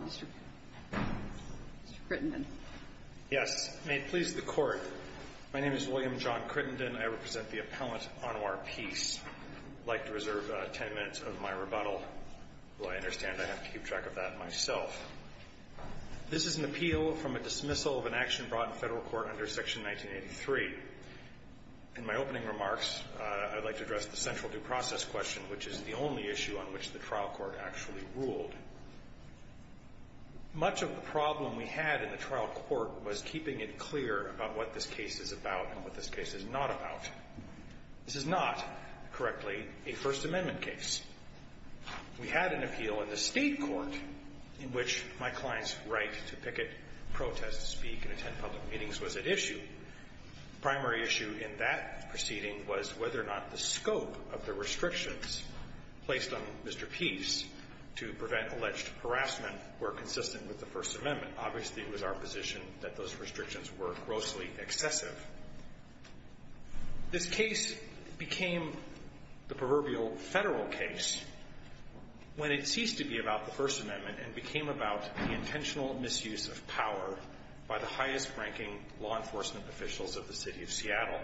Mr. Crittenden Yes. May it please the Court. My name is William John Crittenden. I represent the appellant, Anwar Peace. I'd like to reserve ten minutes of my rebuttal. Though I understand I have to keep track of that myself. This is an appeal from a dismissal of an action brought in Federal court under Section 1983. In my opening remarks, I'd like to address the central due process question, which is the only issue on which the trial court actually ruled. Much of the problem we had in the trial court was keeping it clear about what this case is about and what this case is not about. This is not, correctly, a First Amendment case. We had an appeal in the State court in which my client's right to picket, protest, speak, and attend public meetings was at issue. The primary issue in that proceeding was whether or not the scope of the restrictions placed on Mr. Peace to prevent alleged harassment were consistent with the First Amendment. Obviously, it was our position that those restrictions were grossly excessive. This case became the proverbial Federal case when it ceased to be about the First Amendment and became about the intentional misuse of power by the highest-ranking law enforcement officials of the City of Seattle.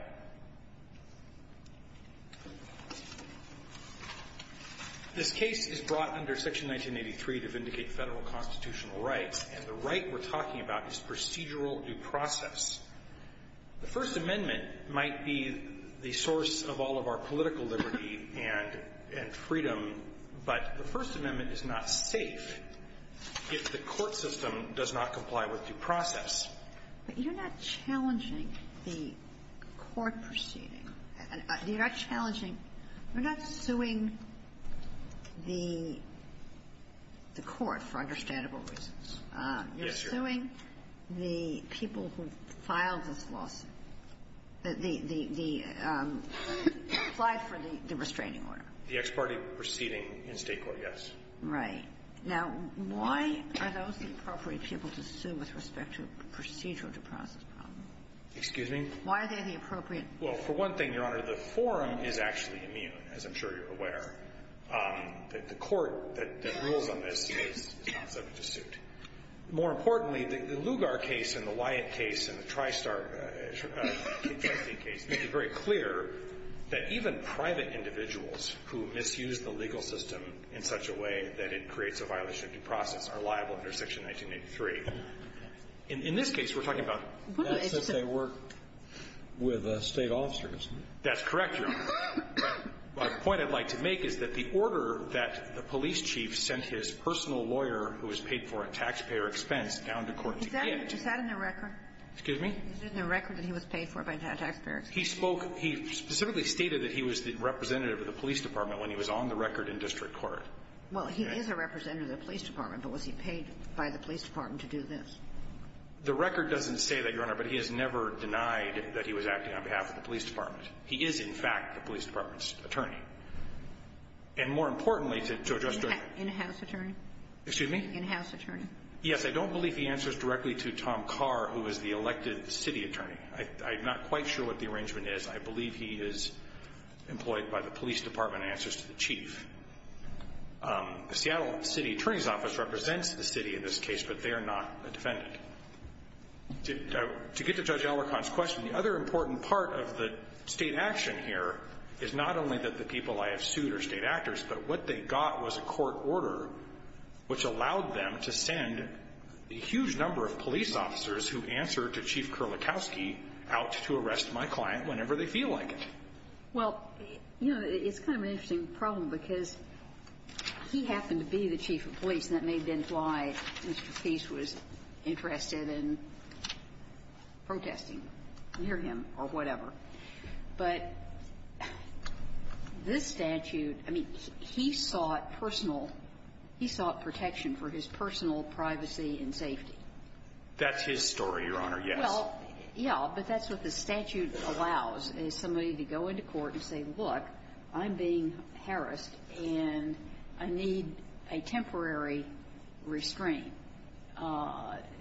This case is brought under Section 1983 to vindicate Federal constitutional rights, and the right we're talking about is procedural due process. The First Amendment might be the source of all of our political liberty and freedom, but the First Amendment is not safe if the court system does not comply with due process. But you're not challenging the court proceeding. You're not challenging or not suing the court for understandable reasons. Yes, Your Honor. You're suing the people who filed this lawsuit, the one who applied for the restraining order. The ex parte proceeding in State court, yes. Right. Now, why are those the appropriate people to sue with respect to procedural due process problems? Excuse me? Why are they the appropriate? Well, for one thing, Your Honor, the forum is actually immune, as I'm sure you're aware. The court that rules on this is not subject to suit. More importantly, the Lugar case and the Wyatt case and the Tristar case make it very clear that even private individuals who misuse the legal system in such a way that it creates a violation of due process are liable under Section 1983. In this case, we're talking about the process they work with State officers. That's correct, Your Honor. But the point I'd like to make is that the order that the police chief sent his personal lawyer, who was paid for a taxpayer expense, down to court to get. Is that in the record? Excuse me? Is it in the record that he was paid for by taxpayer expense? He spoke. He specifically stated that he was the representative of the police department when he was on the record in district court. Well, he is a representative of the police department, but was he paid by the police department to do this? The record doesn't say that, Your Honor, but he has never denied that he was acting on behalf of the police department. He is, in fact, the police department's attorney. And more importantly, to address. In-house attorney? Excuse me? In-house attorney? Yes. I don't believe he answers directly to Tom Carr, who is the elected city attorney. I'm not quite sure what the arrangement is. I believe he is employed by the police department and answers to the chief. The Seattle City Attorney's Office represents the city in this case, but they are not a defendant. To get to Judge Elricon's question, the other important part of the state action here is not only that the people I have sued are state actors, but what they got was a court order which allowed them to send a huge number of police officers who answer to Chief Kerlikowski out to arrest my client whenever they feel like it. Well, you know, it's kind of an interesting problem because he happened to be the chief of police, and that may have been why Mr. Peace was interested in protesting near him or whatever. But this statute, I mean, he sought personal, he sought protection for his personal privacy and safety. That's his story, Your Honor, yes. Well, yes, but that's what the statute allows, is somebody to go into court and say, look, I'm being harassed, and I need a temporary restraint.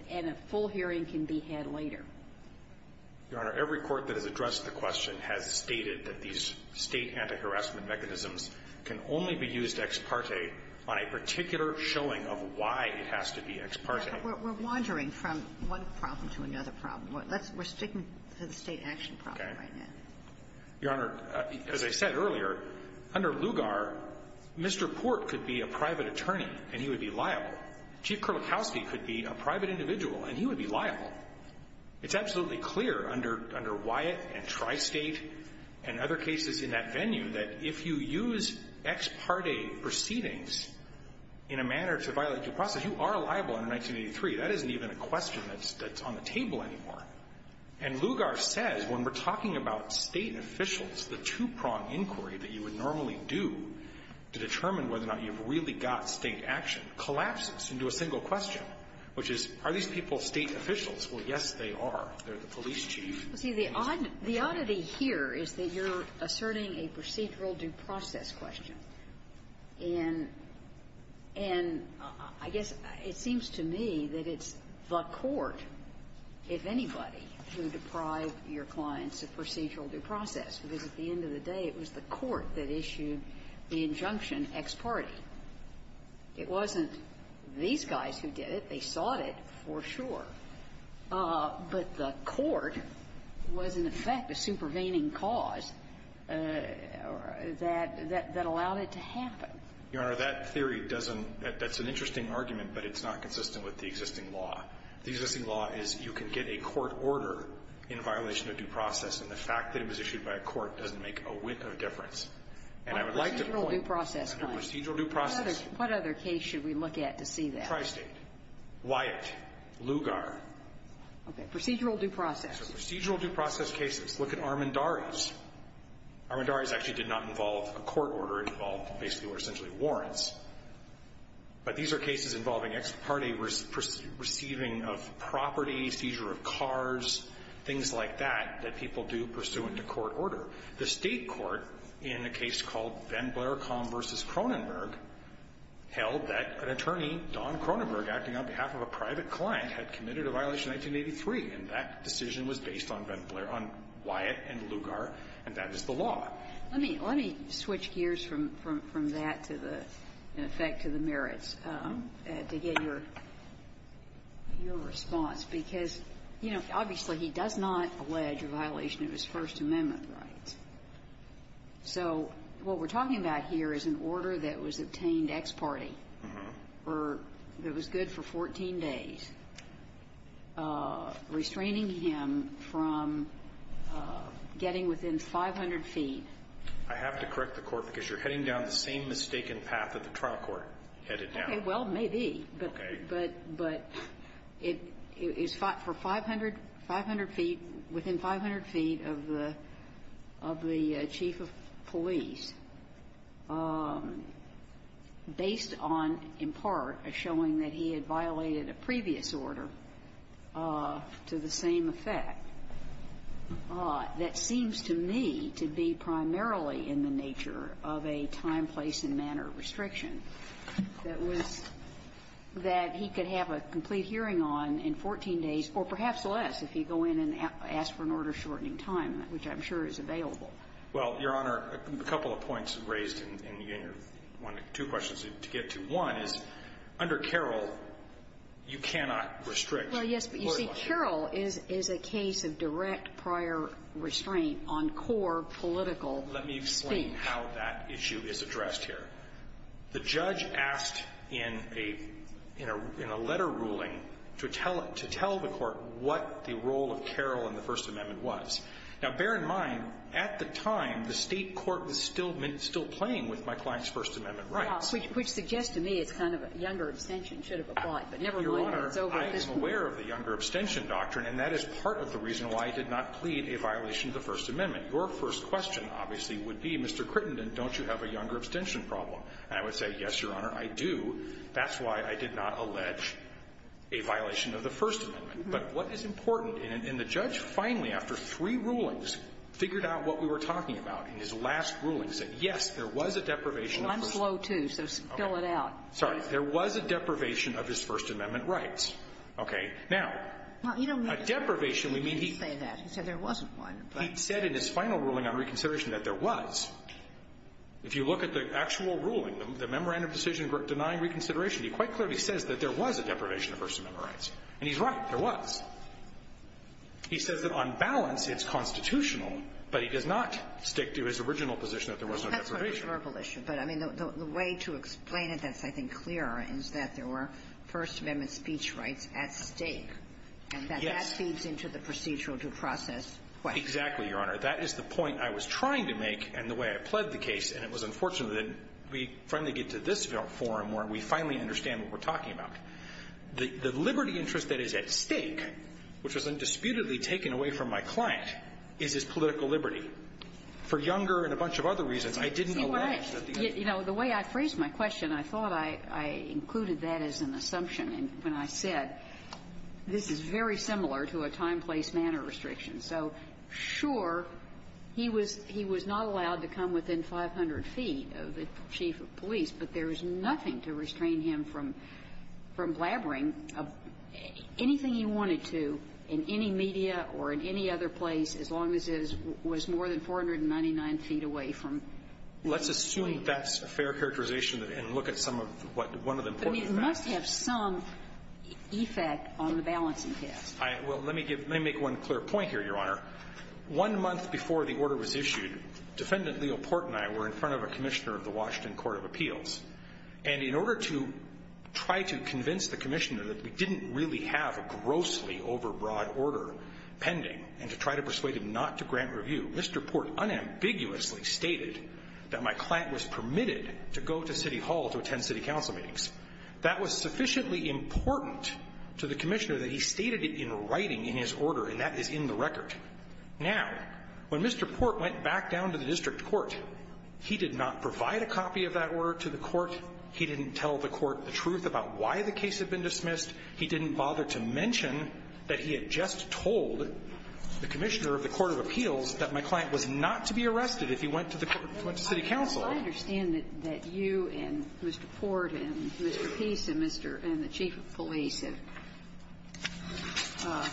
And a full hearing can be had later. Your Honor, every court that has addressed the question has stated that these state anti-harassment mechanisms can only be used ex parte on a particular showing of why it has to be ex parte. We're wandering from one problem to another problem. We're sticking to the state action problem right now. Your Honor, as I said earlier, under Lugar, Mr. Port could be a private attorney and he would be liable. Chief Kerlikowski could be a private individual and he would be liable. It's absolutely clear under Wyatt and Tristate and other cases in that venue that if you use ex parte proceedings in a manner to violate due process, you are liable under 1983. That isn't even a question that's on the table anymore. And Lugar says, when we're talking about state officials, the two-prong inquiry that you would normally do to determine whether or not you've really got state action collapses into a single question, which is, are these people state officials? Well, yes, they are. They're the police chief. Well, see, the oddity here is that you're asserting a procedural due process question. And I guess it seems to me that it's the court, if anybody, who deprived your clients of procedural due process, because at the end of the day, it was the court that issued the injunction ex parte. It wasn't these guys who did it. They sought it, for sure. But the court was, in effect, a supervening cause that allowed it to happen. Your Honor, that theory doesn't – that's an interesting argument, but it's not consistent with the existing law. The existing law is you can get a court order in violation of due process, and the fact that it was issued by a court doesn't make a difference. And I would like to point to procedural due process. What other case should we look at to see that? Tri-State, Wyatt, Lugar. Okay. Procedural due process. So procedural due process cases. Look at Armendariz. Armendariz actually did not involve a court order. It involved basically what are essentially warrants. But these are cases involving ex parte receiving of property, seizure of cars, things like that, that people do pursuant to court order. The State court, in a case called Van Blaerkamp v. Cronenberg, held that an attorney, Don Cronenberg, acting on behalf of a private client, had committed a violation in 1983. And that decision was based on Van Blaer – on Wyatt and Lugar, and that is the law. Let me – let me switch gears from that to the – in effect to the merits to get your – your response, because, you know, obviously, he does not allege a violation of his First Amendment rights. So what we're talking about here is an order that was obtained ex parte or that was good for 14 days restraining him from getting within 500 feet. I have to correct the Court, because you're heading down the same mistaken path that the trial court headed down. Okay. Well, maybe. Okay. But – but it is for 500 – 500 feet – within 500 feet of the – of the chief of police, based on, in part, a showing that he had violated a previous order to the same effect, that seems to me to be primarily in the nature of a time, place, and manner restriction. That was – that he could have a complete hearing on in 14 days, or perhaps less, if he go in and ask for an order-shortening time, which I'm sure is available. Well, Your Honor, a couple of points raised in your one – two questions to get to. One is, under Carroll, you cannot restrict. Well, yes, but you see, Carroll is – is a case of direct prior restraint on core political speech. Let me explain how that issue is addressed here. The judge asked in a – in a – in a letter ruling to tell – to tell the Court what the role of Carroll in the First Amendment was. Now, bear in mind, at the time, the State court was still – still playing with my client's First Amendment rights. Well, which suggests to me it's kind of a younger abstention should have applied. But never mind. It's over. Your Honor, I am aware of the younger abstention doctrine, and that is part of the reason why I did not plead a violation of the First Amendment. Your first question, obviously, would be, Mr. Crittenden, don't you have a younger abstention problem? And I would say, yes, Your Honor, I do. That's why I did not allege a violation of the First Amendment. But what is important – and the judge finally, after three rulings, figured out what we were talking about in his last ruling, said, yes, there was a deprivation of First – Well, I'm slow, too, so spill it out. Sorry. There was a deprivation of his First Amendment rights. Okay. Now, a deprivation, we mean he – He didn't say that. He said there wasn't one. He said in his final ruling on reconsideration that there was. If you look at the actual ruling, the memorandum of decision denying reconsideration, he quite clearly says that there was a deprivation of First Amendment rights. And he's right. There was. He says that on balance, it's constitutional, but he does not stick to his original position that there was no deprivation. Well, that's a verbal issue. But, I mean, the way to explain it that's, I think, clearer is that there were First Amendment speech rights at stake, and that that feeds into the procedural due process question. Exactly, Your Honor. That is the point I was trying to make, and the way I pled the case, and it was unfortunate that we finally get to this forum where we finally understand what we're talking about. The liberty interest that is at stake, which was undisputedly taken away from my client, is his political liberty. For Younger and a bunch of other reasons, I didn't allege that the other one was at stake. You know, the way I phrased my question, I thought I included that as an assumption when I said this is very similar to a time, place, manner restriction. So, sure, he was not allowed to come within 500 feet of the chief of police, but there is nothing to restrain him from blabbering anything he wanted to in any media or in any other place as long as it was more than 499 feet away from the chief. Well, let's assume that's a fair characterization and look at some of what one of the important facts. But it must have some effect on the balancing test. Well, let me make one clear point here, Your Honor. One month before the order was issued, Defendant Leo Port and I were in front of a commissioner of the Washington Court of Appeals. And in order to try to convince the commissioner that we didn't really have a grossly overbroad order pending and to try to persuade him not to grant review, Mr. Port unambiguously stated that my client was permitted to go to City Hall to attend city council meetings. That was sufficiently important to the commissioner that he stated it in writing in his order, and that is in the record. Now, when Mr. Port went back down to the district court, he did not provide a copy of that order to the court. He didn't tell the court the truth about why the case had been dismissed. He didn't bother to mention that he had just told the commissioner of the court of appeals that my client was not to be arrested if he went to the court, went to city council. Kagan. I understand that you and Mr. Port and Mr. Peace and Mr. and the chief of police have not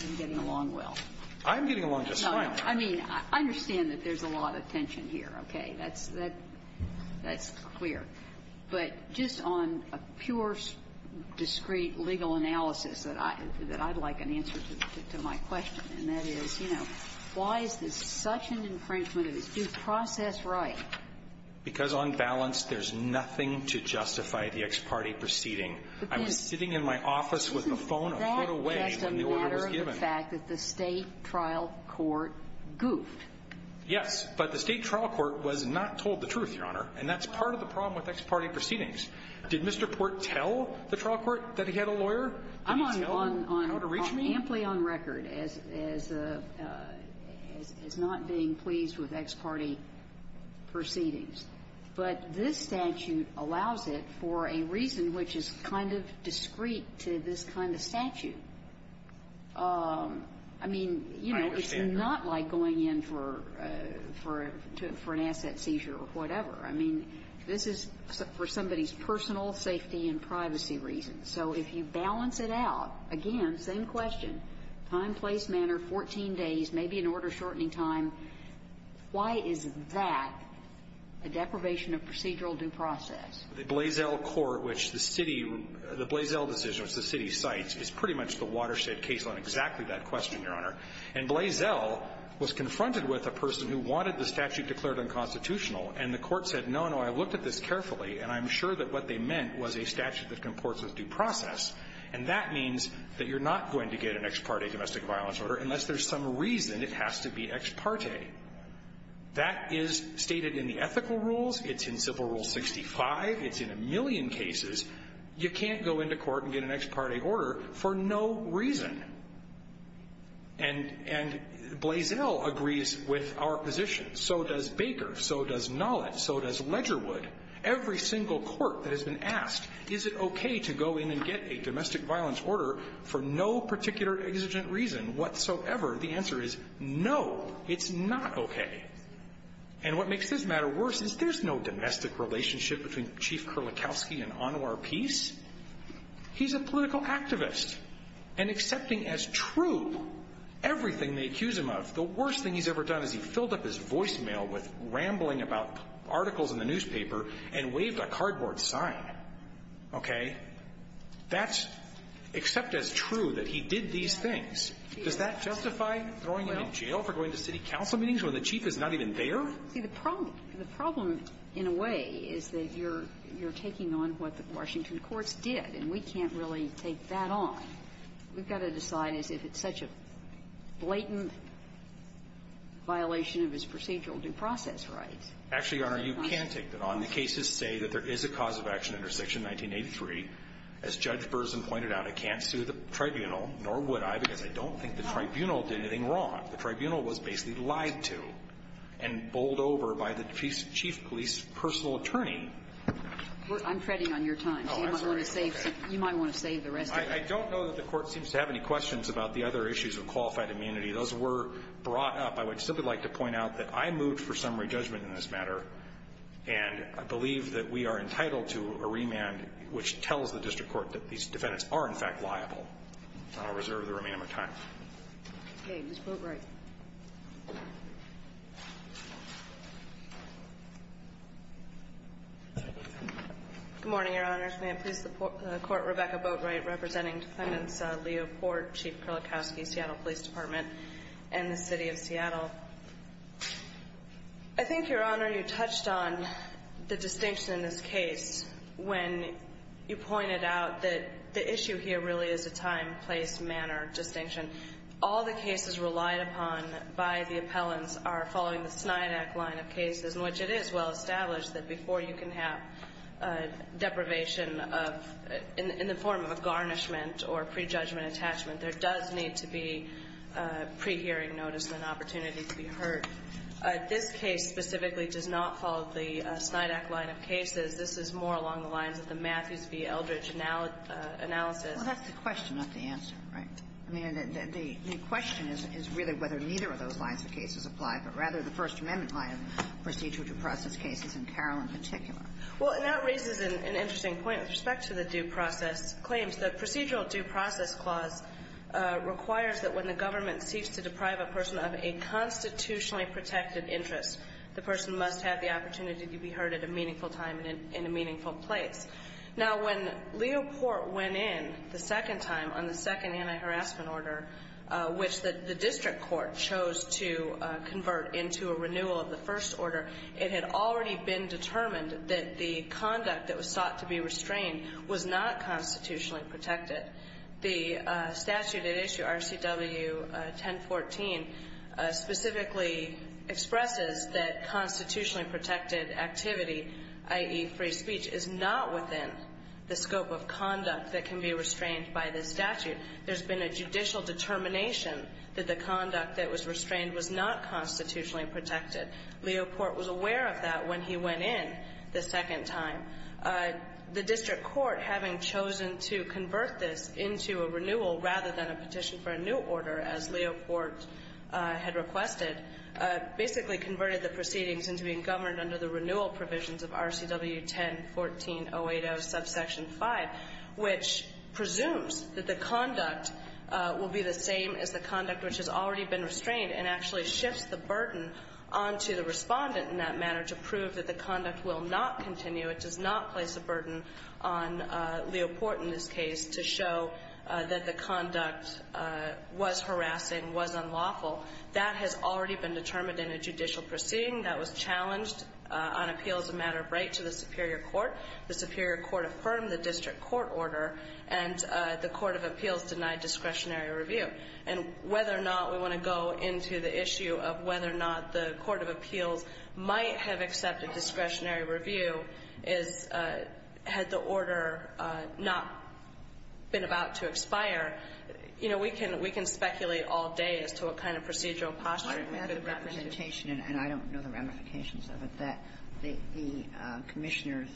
been getting along well. I'm getting along just fine. I mean, I understand that there's a lot of tension here, okay? That's clear. But just on a pure, discreet legal analysis that I'd like an answer to my question, and that is, you know, why is this such an infringement of his due process right? Because on balance, there's nothing to justify the ex parte proceeding. I was sitting in my office with a phone a foot away when the order was given. That's a matter of the fact that the state trial court goofed. Yes, but the state trial court was not told the truth, Your Honor, and that's part of the problem with ex parte proceedings. Did Mr. Port tell the trial court that he had a lawyer? Did he tell him how to reach me? Amply on record as a, as not being pleased with ex parte proceedings. But this statute allows it for a reason which is kind of discreet to this kind of statute. I mean, you know, it's not like going in for, for an asset seizure or whatever. I mean, this is for somebody's personal safety and privacy reasons. So if you balance it out, again, same question, time, place, manner, 14 days, maybe an order shortening time, why is that a deprivation of procedural due process? The Blaisdell court, which the city, the Blaisdell decision, which the city cites is pretty much the watershed case on exactly that question, Your Honor, and Blaisdell was confronted with a person who wanted the statute declared unconstitutional. And the court said, no, no, I've looked at this carefully, and I'm sure that what they meant was a statute that comports with due process. And that means that you're not going to get an ex parte domestic violence order, unless there's some reason it has to be ex parte. That is stated in the ethical rules, it's in civil rule 65, it's in a million cases. You can't go into court and get an ex parte order for no reason. And, and Blaisdell agrees with our position. So does Baker, so does Nolet, so does Ledgerwood. Every single court that has been asked, is it okay to go in and get a domestic violence order for no particular exigent reason whatsoever? The answer is no, it's not okay. And what makes this matter worse is there's no domestic relationship between Chief Kurlikowski and Anwar Peace. He's a political activist. And accepting as true everything they accuse him of, the worst thing he's ever done is he filled up his voicemail with rambling about articles in the newspaper and waved a cardboard sign, okay? That's, except as true, that he did these things. Does that justify throwing him in jail for going to city council meetings when the chief is not even there? See, the problem, the problem in a way is that you're, you're taking on what the Washington courts did, and we can't really take that on. We've got to decide as if it's such a blatant violation of his procedural due process rights. Actually, Your Honor, you can take that on. The cases say that there is a cause of action under Section 1983. As Judge Burson pointed out, I can't sue the tribunal, nor would I, because I don't think the tribunal did anything wrong. The tribunal was basically lied to and bowled over by the chief police personal attorney. I'm treading on your time. Oh, I'm sorry. You might want to save the rest of it. I don't know that the court seems to have any questions about the other issues of qualified immunity. Those were brought up. I would simply like to point out that I moved for summary judgment in this matter, and I believe that we are entitled to a remand which tells the district court that these defendants are, in fact, liable. I'll reserve the remaining of my time. Okay. Ms. Boatwright. Good morning, Your Honors. May it please the court, Rebecca Boatwright, representing Defendants Leo Port, Chief Kurlikowski, Seattle Police Department, and the City of Seattle. I think, Your Honor, you touched on the distinction in this case when you pointed out that the issue here really is a time, place, manner distinction. All the cases relied upon by the appellants are following the Snydak line of cases, in which it is well-established that before you can have deprivation of, in the form of a garnishment or prejudgment attachment, there does need to be pre-hearing notice and an opportunity to be heard. This case specifically does not follow the Snydak line of cases. This is more along the lines of the Matthews v. Eldridge analysis. Well, that's the question, not the answer, right? I mean, the question is really whether neither of those lines of cases apply, but rather the First Amendment line of procedural due process cases, and Carroll in particular. Well, and that raises an interesting point with respect to the due process claims. The procedural due process clause requires that when the government seeks to deprive a person of a constitutionally protected interest, the person must have the opportunity to be heard at a meaningful time and in a meaningful place. Now, when Leo Port went in the second time on the second anti-harassment order, which the district court chose to convert into a renewal of the first order, it had already been determined that the conduct that was sought to be restrained was not constitutionally protected. The statute at issue, RCW 1014, specifically expresses that constitutionally protected activity, i.e. free speech, is not within the scope of conduct that can be restrained by this statute. There's been a judicial determination that the conduct that was restrained was not constitutionally protected. Leo Port was aware of that when he went in the second time. The district court, having chosen to convert this into a renewal rather than a petition for a new order, as Leo Port had requested, basically converted the proceedings into being governed under the renewal provisions of RCW 1014-080 subsection 5, which presumes that the conduct will be the same as the conduct which has already been restrained and actually shifts the burden onto the respondent in that manner to prove that the conduct will not continue. It does not place a burden on Leo Port in this case to show that the conduct was harassing, was unlawful. That has already been determined in a judicial proceeding that was challenged on appeal as a matter of right to the superior court. The superior court affirmed the district court order, and the court of appeals denied discretionary review. And whether or not we want to go into the issue of whether or not the court of appeals might have accepted discretionary review is, had the order not been about to expire, you know, we can speculate all day as to what kind of procedural posture we could have gotten into. And I don't know the ramifications of it, that the commissioner's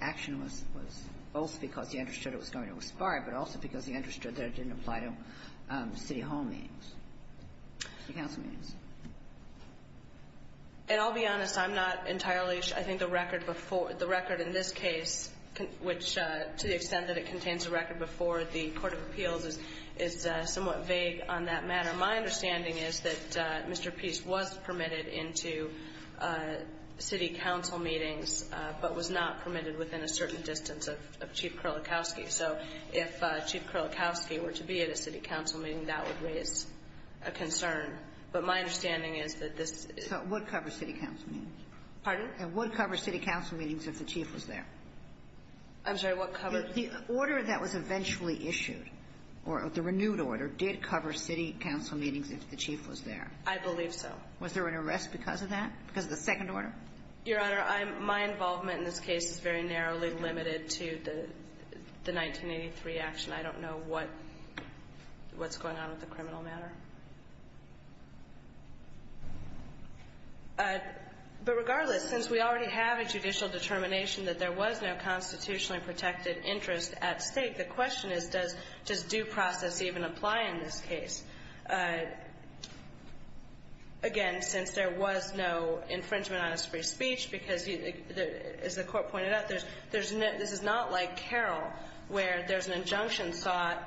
action was both because he understood it was going to expire, but also because he understood that it didn't apply to city hall meetings, city council meetings. And I'll be honest, I'm not entirely sure. I think the record before, the record in this case, which to the extent that it contains a record before the court of appeals is somewhat vague on that matter. My understanding is that Mr. Pease was permitted into city council meetings, but was not permitted within a certain distance of Chief Kerlikowske. So if Chief Kerlikowske were to be at a city council meeting, that would raise a concern. But my understanding is that this is the order that was eventually issued, or the renewed order, did cover city council meetings. If the chief was there. I believe so. Was there an arrest because of that, because of the second order? Your Honor, I'm my involvement in this case is very narrowly limited to the 1983 action. I don't know what's going on with the criminal matter. But regardless, since we already have a judicial determination that there was no constitutionally protected interest at stake, the question is, does due process even apply in this case? Again, since there was no infringement on his free speech, because, as the Court pointed out, there's not like Carroll, where there's an injunction sought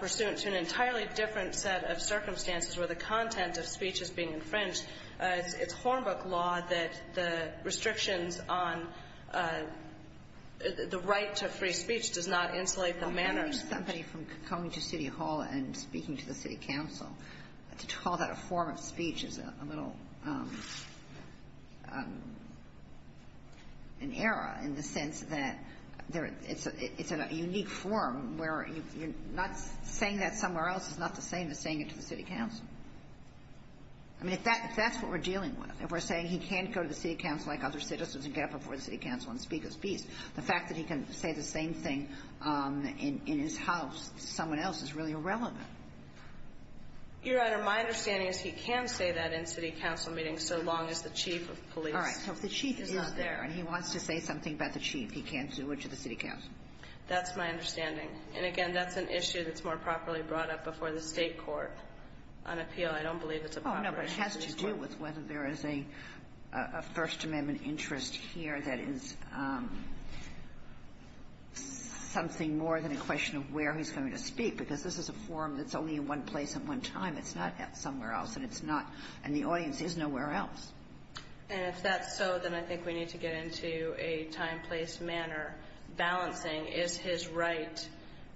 pursuant to an entirely different set of circumstances where the content of speech is being infringed. It's Hornbook law that the restrictions on the right to free speech does not insulate the manner. I think for somebody from coming to city hall and speaking to the city council, to call that a form of speech is a little, an error in the sense that it's a unique form where you're not saying that somewhere else is not the same as saying it to the city council. I mean, if that's what we're dealing with, if we're saying he can't go to the city council like other citizens and get up before the city council and speak his piece, the fact that he can say the same thing in his house to someone else is really irrelevant. Your Honor, my understanding is he can say that in city council meetings so long as the chief of police is not there. All right. So if the chief is there and he wants to say something about the chief, he can do it to the city council. That's my understanding. And, again, that's an issue that's more properly brought up before the state court on appeal. I don't believe it's a proper issue. Oh, no, but it has to do with whether there is a First Amendment interest here that is something more than a question of where he's going to speak, because this is a forum that's only in one place at one time. It's not somewhere else, and the audience is nowhere else. And if that's so, then I think we need to get into a time, place, manner. Balancing, is his right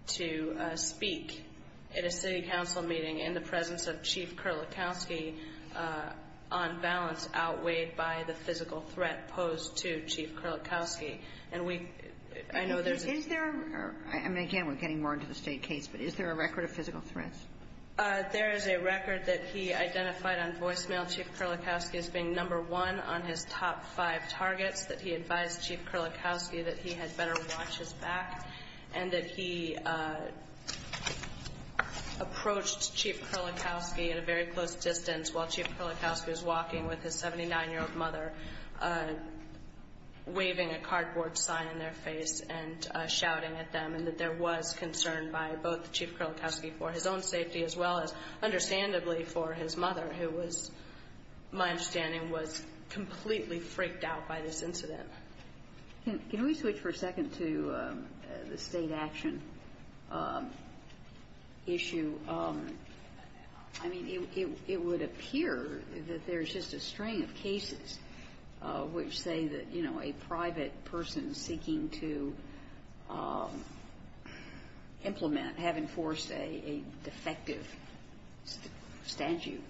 to speak at a city council meeting in the presence of Chief Kurlikowski. And we – I know there's a – Is there – I mean, again, we're getting more into the state case, but is there a record of physical threats? There is a record that he identified on voicemail Chief Kurlikowski as being number one on his top five targets, that he advised Chief Kurlikowski that he had better watch his back, and that he approached Chief Kurlikowski at a very close distance while Chief Kurlikowski was walking with his 79-year-old mother, waving a cardboard sign in their face and shouting at them, and that there was concern by both Chief Kurlikowski for his own safety as well as, understandably, for his mother, who was, my understanding, was completely freaked out by this incident. Can we switch for a second to the state action issue? I mean, it would appear that there's just a string of cases which say that, you know, a private person seeking to implement, have enforced a defective statute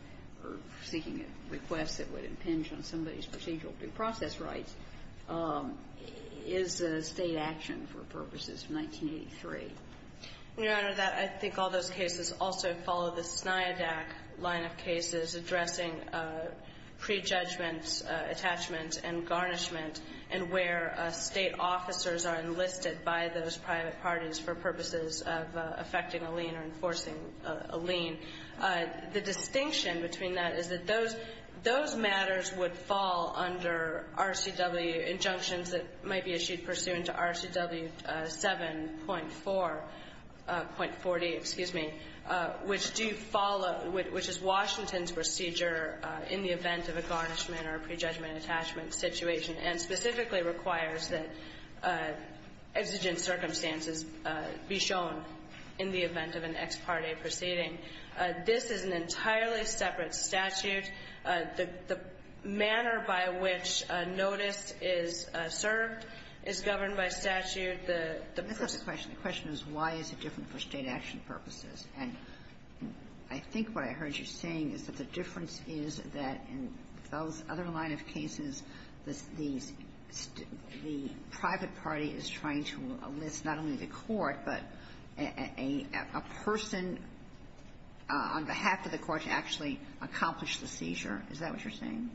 or seeking a request that would impinge on somebody's procedural due process rights is a state action for purposes of 1983. Your Honor, I think all those cases also follow the SNIADAC line of cases addressing prejudgments, attachments, and garnishment, and where state officers are enlisted by those private parties for purposes of effecting a lien or enforcing a lien. The distinction between that is that those matters would fall under RCW injunctions that might be issued pursuant to RCW 7.4, .40, excuse me, which do follow, which is Washington's procedure in the event of a garnishment or a prejudgment attachment situation and specifically requires that exigent circumstances be shown in the event of an ex parte proceeding. This is an entirely separate statute. The manner by which notice is served is governed by statute. The question is why is it different for state action purposes? And I think what I heard you saying is that the difference is that in those other line of cases, the private party is trying to enlist not only the court, but a person on behalf of the court to actually accomplish the seizure. Is that what you're saying?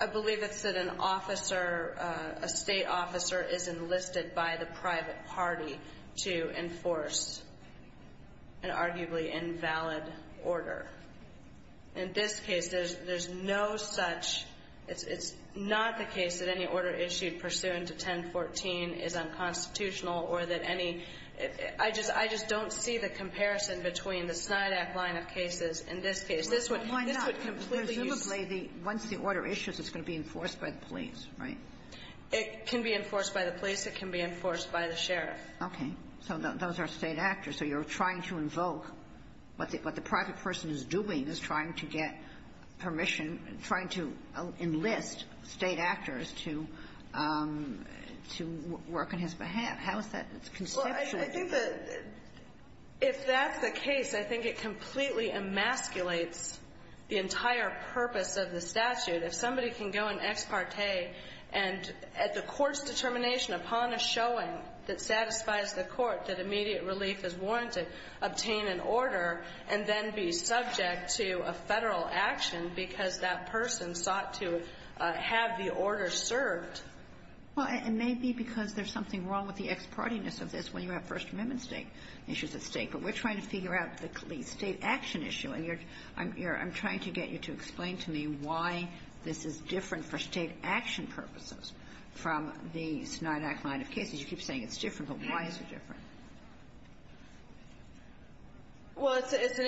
I believe it's that an officer, a state officer is enlisted by the private party to enforce an arguably invalid order. In this case, there's no such, it's not the case that any order issued pursuant to 1014 is unconstitutional or that any, I just don't see the comparison between the SNYDAC line of cases in this case. This would completely use the order issues, it's going to be enforced by the police, right? It can be enforced by the police. It can be enforced by the sheriff. Okay. So those are state actors. So you're trying to invoke what the private person is doing is trying to get permission, trying to enlist state actors to work on his behalf. How is that constitutional? Well, I think that if that's the case, I think it completely emasculates the entire purpose of the statute. If somebody can go and ex parte and at the court's determination upon a showing that satisfies the court that immediate relief is warranted, obtain an order, and then be subject to a Federal action because that person sought to have the order served. Well, it may be because there's something wrong with the ex partiness of this when you have First Amendment issues at stake. But we're trying to figure out the state action issue. And I'm trying to get you to explain to me why this is different for state action purposes from the SNYDAC line of cases. You keep saying it's different, but why is it different? Well, it's an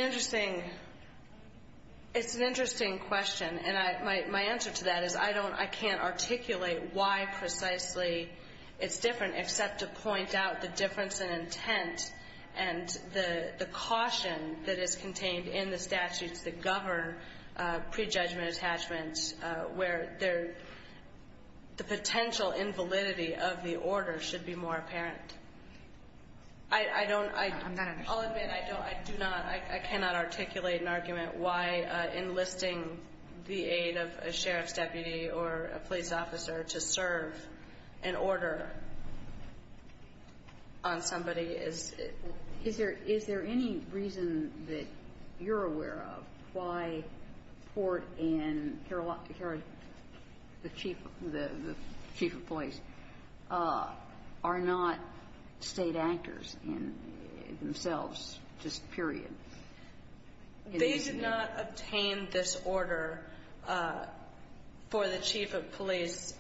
interesting question. And my answer to that is I can't articulate why precisely it's different except to point out the difference in intent and the caution that is contained in the statutes that govern prejudgment attachments where the potential invalidity of the order should be more apparent. I don't – I'll admit I do not – I cannot articulate an argument why enlisting the aid of a sheriff's deputy or a police officer to serve an order on somebody is – Is there any reason that you're aware of why Port and the chief of police are not state actors in themselves, just period? They did not obtain this order for the chief of police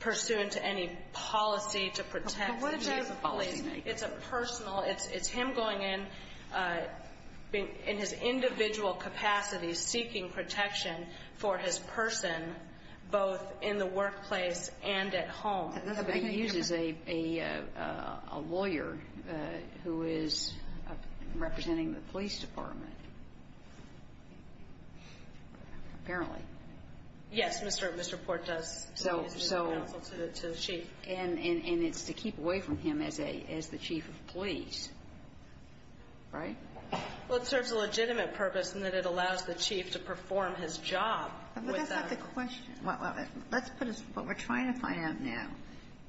pursuant to any policy to protect the chief of police. It's a personal – it's him going in in his individual capacity seeking protection for his person both in the workplace and at home. But he uses a lawyer who is representing the police department, apparently. Yes. Mr. Port does. So – so – He's a counsel to the chief. And it's to keep away from him as a – as the chief of police, right? Well, it serves a legitimate purpose in that it allows the chief to perform his job without – But that's not the question. Well, let's put it – what we're trying to find out now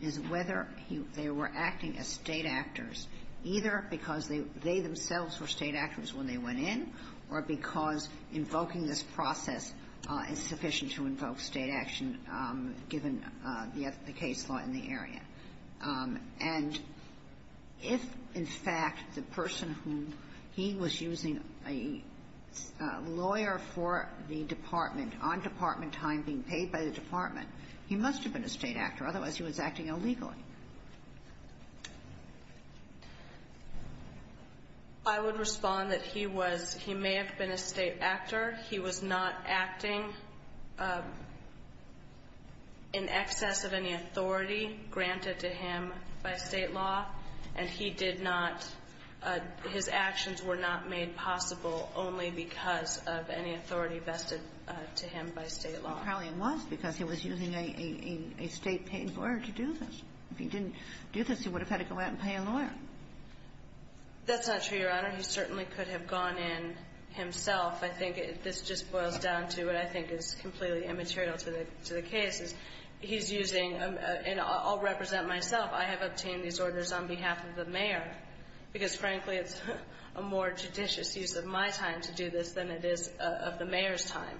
is whether they were acting as state actors, either because they themselves were state actors when they went in or because invoking this process is sufficient to invoke state action given the case law in the area. And if, in fact, the person whom he was using a lawyer for the department on department time being paid by the department, he must have been a state actor. Otherwise, he was acting illegally. I would respond that he was – he may have been a state actor. He was not acting in excess of any authority granted to him by state law. And he did not – his actions were not made possible only because of any authority vested to him by state law. Well, probably it was because he was using a state-paid lawyer to do this. If he didn't do this, he would have had to go out and pay a lawyer. That's not true, Your Honor. He certainly could have gone in himself. I think this just boils down to what I think is completely immaterial to the case, is he's using – and I'll represent myself. I have obtained these orders on behalf of the mayor, because, frankly, it's a more judicious use of my time to do this than it is of the mayor's time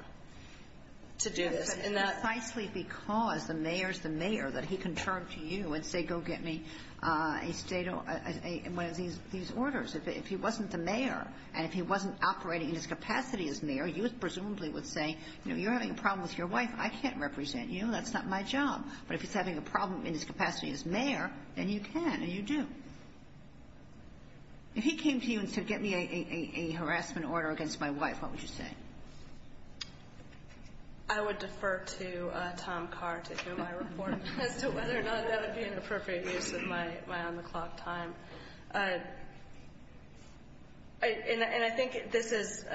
to do this. Precisely because the mayor is the mayor that he can turn to you and say, go get me a state – one of these orders. If he wasn't the mayor and if he wasn't operating in his capacity as mayor, you presumably would say, you know, you're having a problem with your wife. I can't represent you. That's not my job. But if he's having a problem in his capacity as mayor, then you can and you do. If he came to you and said, get me a harassment order against my wife, what would you say? I would defer to Tom Carr to hear my report as to whether or not that would be an appropriate use of my on-the-clock time. And I think this is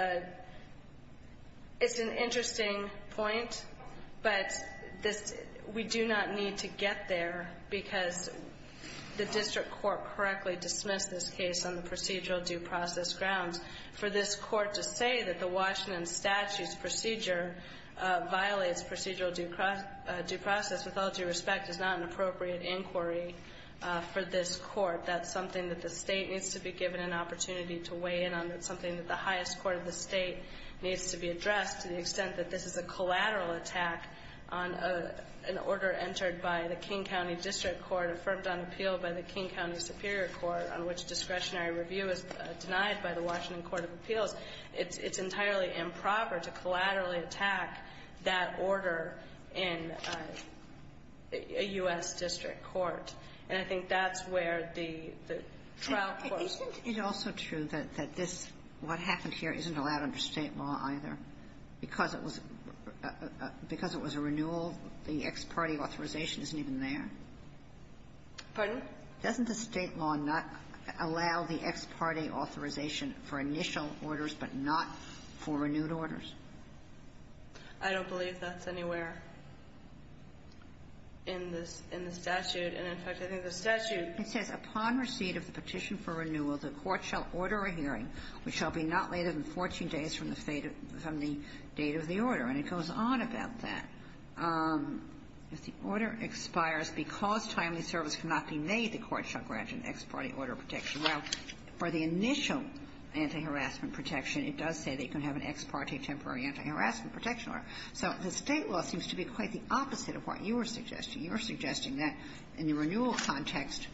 – it's an interesting point, but this – we do not need to get there, because the district court correctly dismissed this case on the procedural due process grounds. For this court to say that the Washington statute's procedure violates procedural due process with all due respect is not an appropriate inquiry for this court. That's something that the state needs to be given an opportunity to weigh in on. It's something that the highest court of the state needs to be addressed to the extent that this is a collateral attack on an order entered by the King County District Court, affirmed on appeal by the King County Superior Court, on which discretionary review is denied by the Washington Court of Appeals. It's entirely improper to collaterally attack that order in a U.S. district court. And I think that's where the trial court's – Isn't it also true that this – what happened here isn't allowed under state law either? Because it was – because it was a renewal, the ex parte authorization isn't even there? Pardon? Doesn't the state law not allow the ex parte authorization for initial orders, but not for renewed orders? I don't believe that's anywhere in this – in the statute. And, in fact, I think the statute – It says, upon receipt of the petition for renewal, the court shall order a hearing, which shall be not later than 14 days from the date of the order. And it goes on about that. If the order expires because timely service cannot be made, the court shall grant an ex parte order of protection. Now, for the initial anti-harassment protection, it does say that you can have an ex parte temporary anti-harassment protection order. So the state law seems to be quite the opposite of what you were suggesting. You were suggesting that in the renewal context,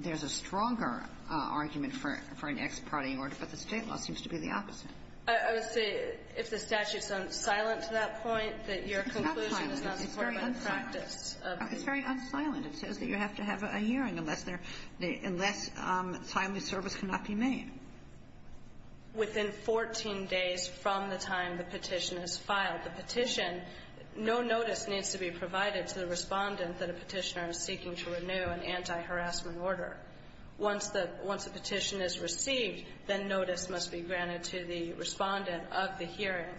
there's a stronger argument for an ex parte order, but the state law seems to be the opposite. I would say, if the statute's silent to that point, that your conclusion is not supported by the practice of the statute. It's very unsilent. It says that you have to have a hearing unless there – unless timely service cannot be made. Within 14 days from the time the petition is filed, the petition – no notice needs to be provided to the respondent that a petitioner is seeking to renew an anti-harassment order. Once the – once a petition is received, then notice must be granted to the respondent of the hearing.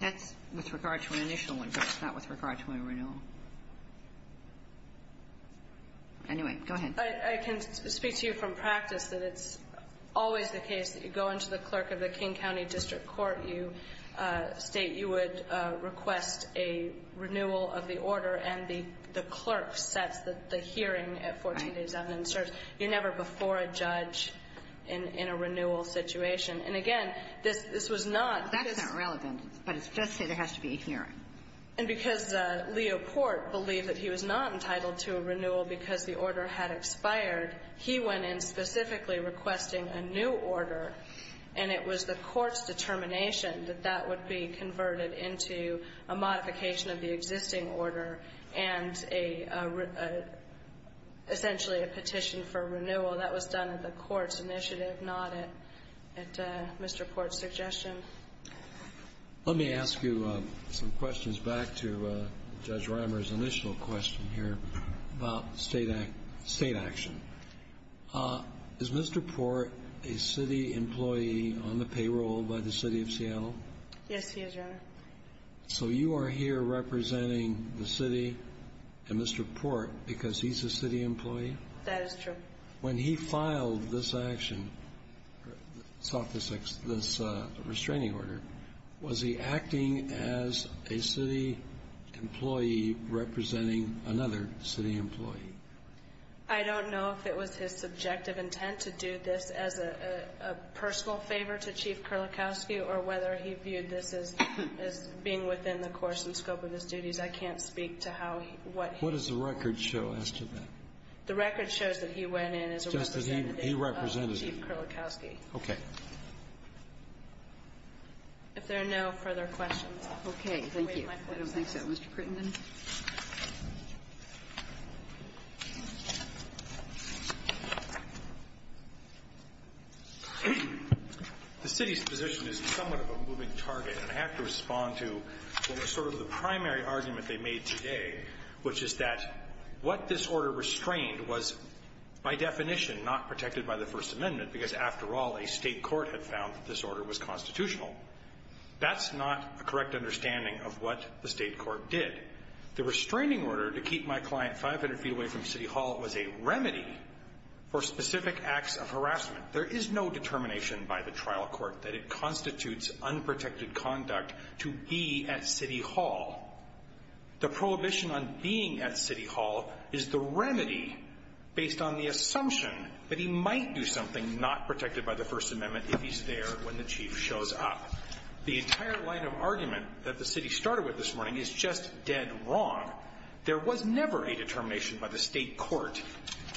That's with regard to an initial one, Judge, not with regard to a renewal. Anyway, go ahead. I can speak to you from practice that it's always the case that you go into the clerk of the King County District Court, you state you would request a renewal of the order, and the clerk sets that the hearing at 14 days evidence serves. You're never before a judge in a renewal situation. And again, this was not – That's not relevant, but it does say there has to be a hearing. And because Leo Porte believed that he was not entitled to a renewal because the order had expired, he went in specifically requesting a new order, and it was the Court's and a – essentially a petition for renewal. That was done at the Court's initiative, not at Mr. Porte's suggestion. Let me ask you some questions back to Judge Rimer's initial question here about state action. Is Mr. Porte a city employee on the payroll by the City of Seattle? Yes, he is, Your Honor. So you are here representing the city and Mr. Porte because he's a city employee? That is true. When he filed this action, this restraining order, was he acting as a city employee representing another city employee? I don't know if it was his subjective intent to do this as a personal favor to Chief Kurlikowski or whether he viewed this as being within the course and scope of his duties. I can't speak to how – what he – What does the record show as to that? The record shows that he went in as a representative of Chief Kurlikowski. If there are no further questions, I'll wait in my place. Okay. Thank you. I don't think so. Mr. Krugman. The city's position is somewhat of a moving target, and I have to respond to sort of the primary argument they made today, which is that what this order restrained was, by definition, not protected by the First Amendment because, after all, a state court had found that this order was constitutional. That's not a correct understanding of what the state court did. The restraining order to keep my client 500 feet away from City Hall was a remedy for specific acts of harassment. There is no determination by the trial court that it constitutes unprotected conduct to be at City Hall. The prohibition on being at City Hall is the remedy based on the assumption that he might do something not protected by the First Amendment if he's there when the chief shows up. The entire line of argument that the city started with this morning is just dead wrong. There was never a determination by the state court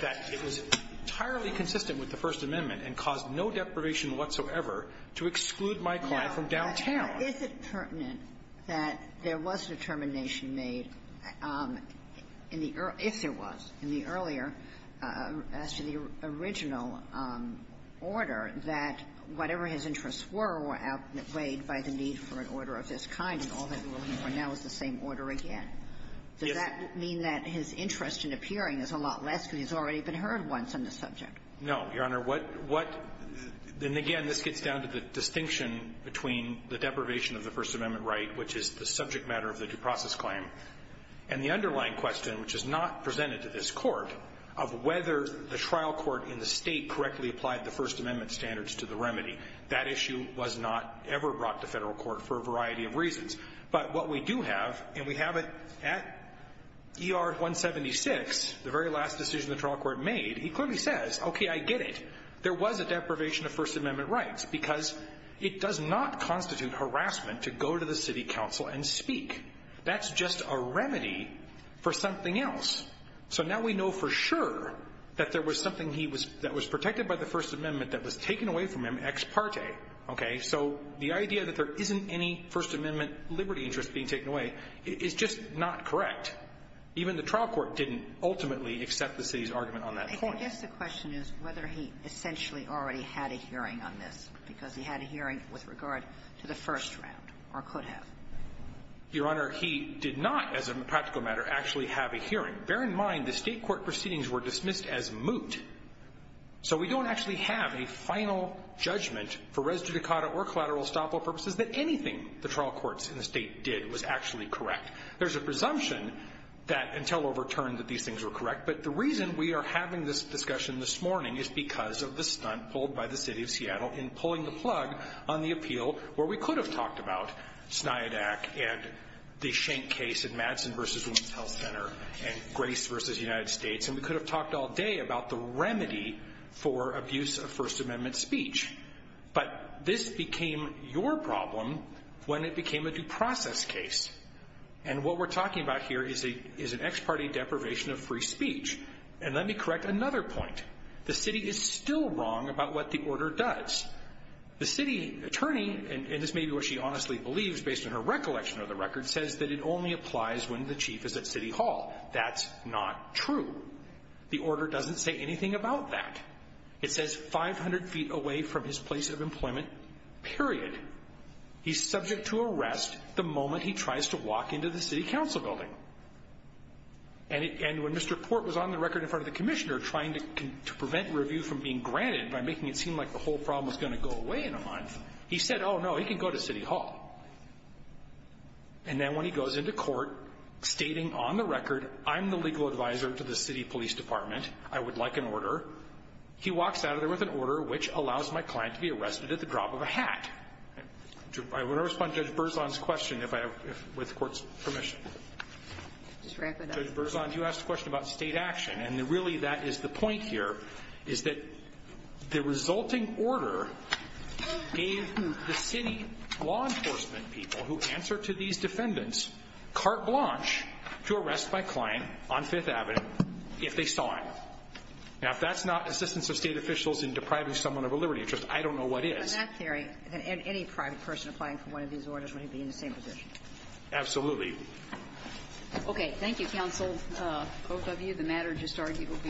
that it was entirely consistent with the First Amendment and caused no deprivation whatsoever to exclude my client from downtown. Now, is it pertinent that there was determination made in the early – if there was determination made in the early order that whatever his interests were were outweighed by the need for an order of this kind, and all they're looking for now is the same order again? Does that mean that his interest in appearing is a lot less because he's already been heard once on this subject? No, Your Honor. What – what – and again, this gets down to the distinction between the deprivation of the First Amendment right, which is the subject matter of the due process claim, and the underlying question, which is not presented to this court, of whether the trial court in the state correctly applied the First Amendment standards to the remedy. That issue was not ever brought to federal court for a variety of reasons. But what we do have, and we have it at ER 176, the very last decision the trial court made, he clearly says, okay, I get it. There was a deprivation of First Amendment rights because it does not constitute harassment to go to the city council and speak. That's just a remedy for something else. So now we know for sure that there was something he was – that was protected by the First Amendment that was taken away from him ex parte. Okay? So the idea that there isn't any First Amendment liberty interest being taken away is just not correct. Even the trial court didn't ultimately accept the city's argument on that point. I guess the question is whether he essentially already had a hearing on this, because he had a hearing with regard to the first round, or could have. Your Honor, he did not, as a practical matter, actually have a hearing. Bear in mind the state court proceedings were dismissed as moot. So we don't actually have a final judgment for res judicata or collateral estoppel purposes that anything the trial courts in the state did was actually correct. There's a presumption that, until overturned, that these things were correct. But the reason we are having this discussion this morning is because of the stunt pulled by the city of Seattle in pulling the plug on the appeal where we could have talked about Sniadak and the Schenck case in Madsen v. Women's Health Center and Grace v. United States. And we could have talked all day about the remedy for abuse of First Amendment speech. But this became your problem when it became a due process case. And what we're talking about here is an ex parte deprivation of free speech. And let me correct another point. The city is still wrong about what the order does. The city attorney, and this may be what she honestly believes based on her recollection of the record, says that it only applies when the chief is at city hall. That's not true. The order doesn't say anything about that. It says 500 feet away from his place of employment, period. He's subject to arrest the moment he tries to walk into the city council building. And when Mr. Port was on the record in front of the commissioner trying to prevent review from being granted by making it seem like the whole problem was going to go away in a month, he said, oh, no, he can go to city hall. And then when he goes into court stating on the record, I'm the legal advisor to the city police department. I would like an order. He walks out of there with an order which allows my client to be arrested at the drop of a hat. I want to respond to Judge Berzon's question with the court's permission. Judge Berzon, you asked a question about state action. And really, that is the point here, is that the resulting order gave the city law enforcement people who answer to these defendants carte blanche to arrest my client on 5th Avenue if they saw him. Now, if that's not assistance of state officials in depriving someone of a liberty interest, I don't know what is. In that theory, any private person applying for one of these orders would be in the same position. Absolutely. Okay. Thank you, counsel. Both of you, the matter just argued will be.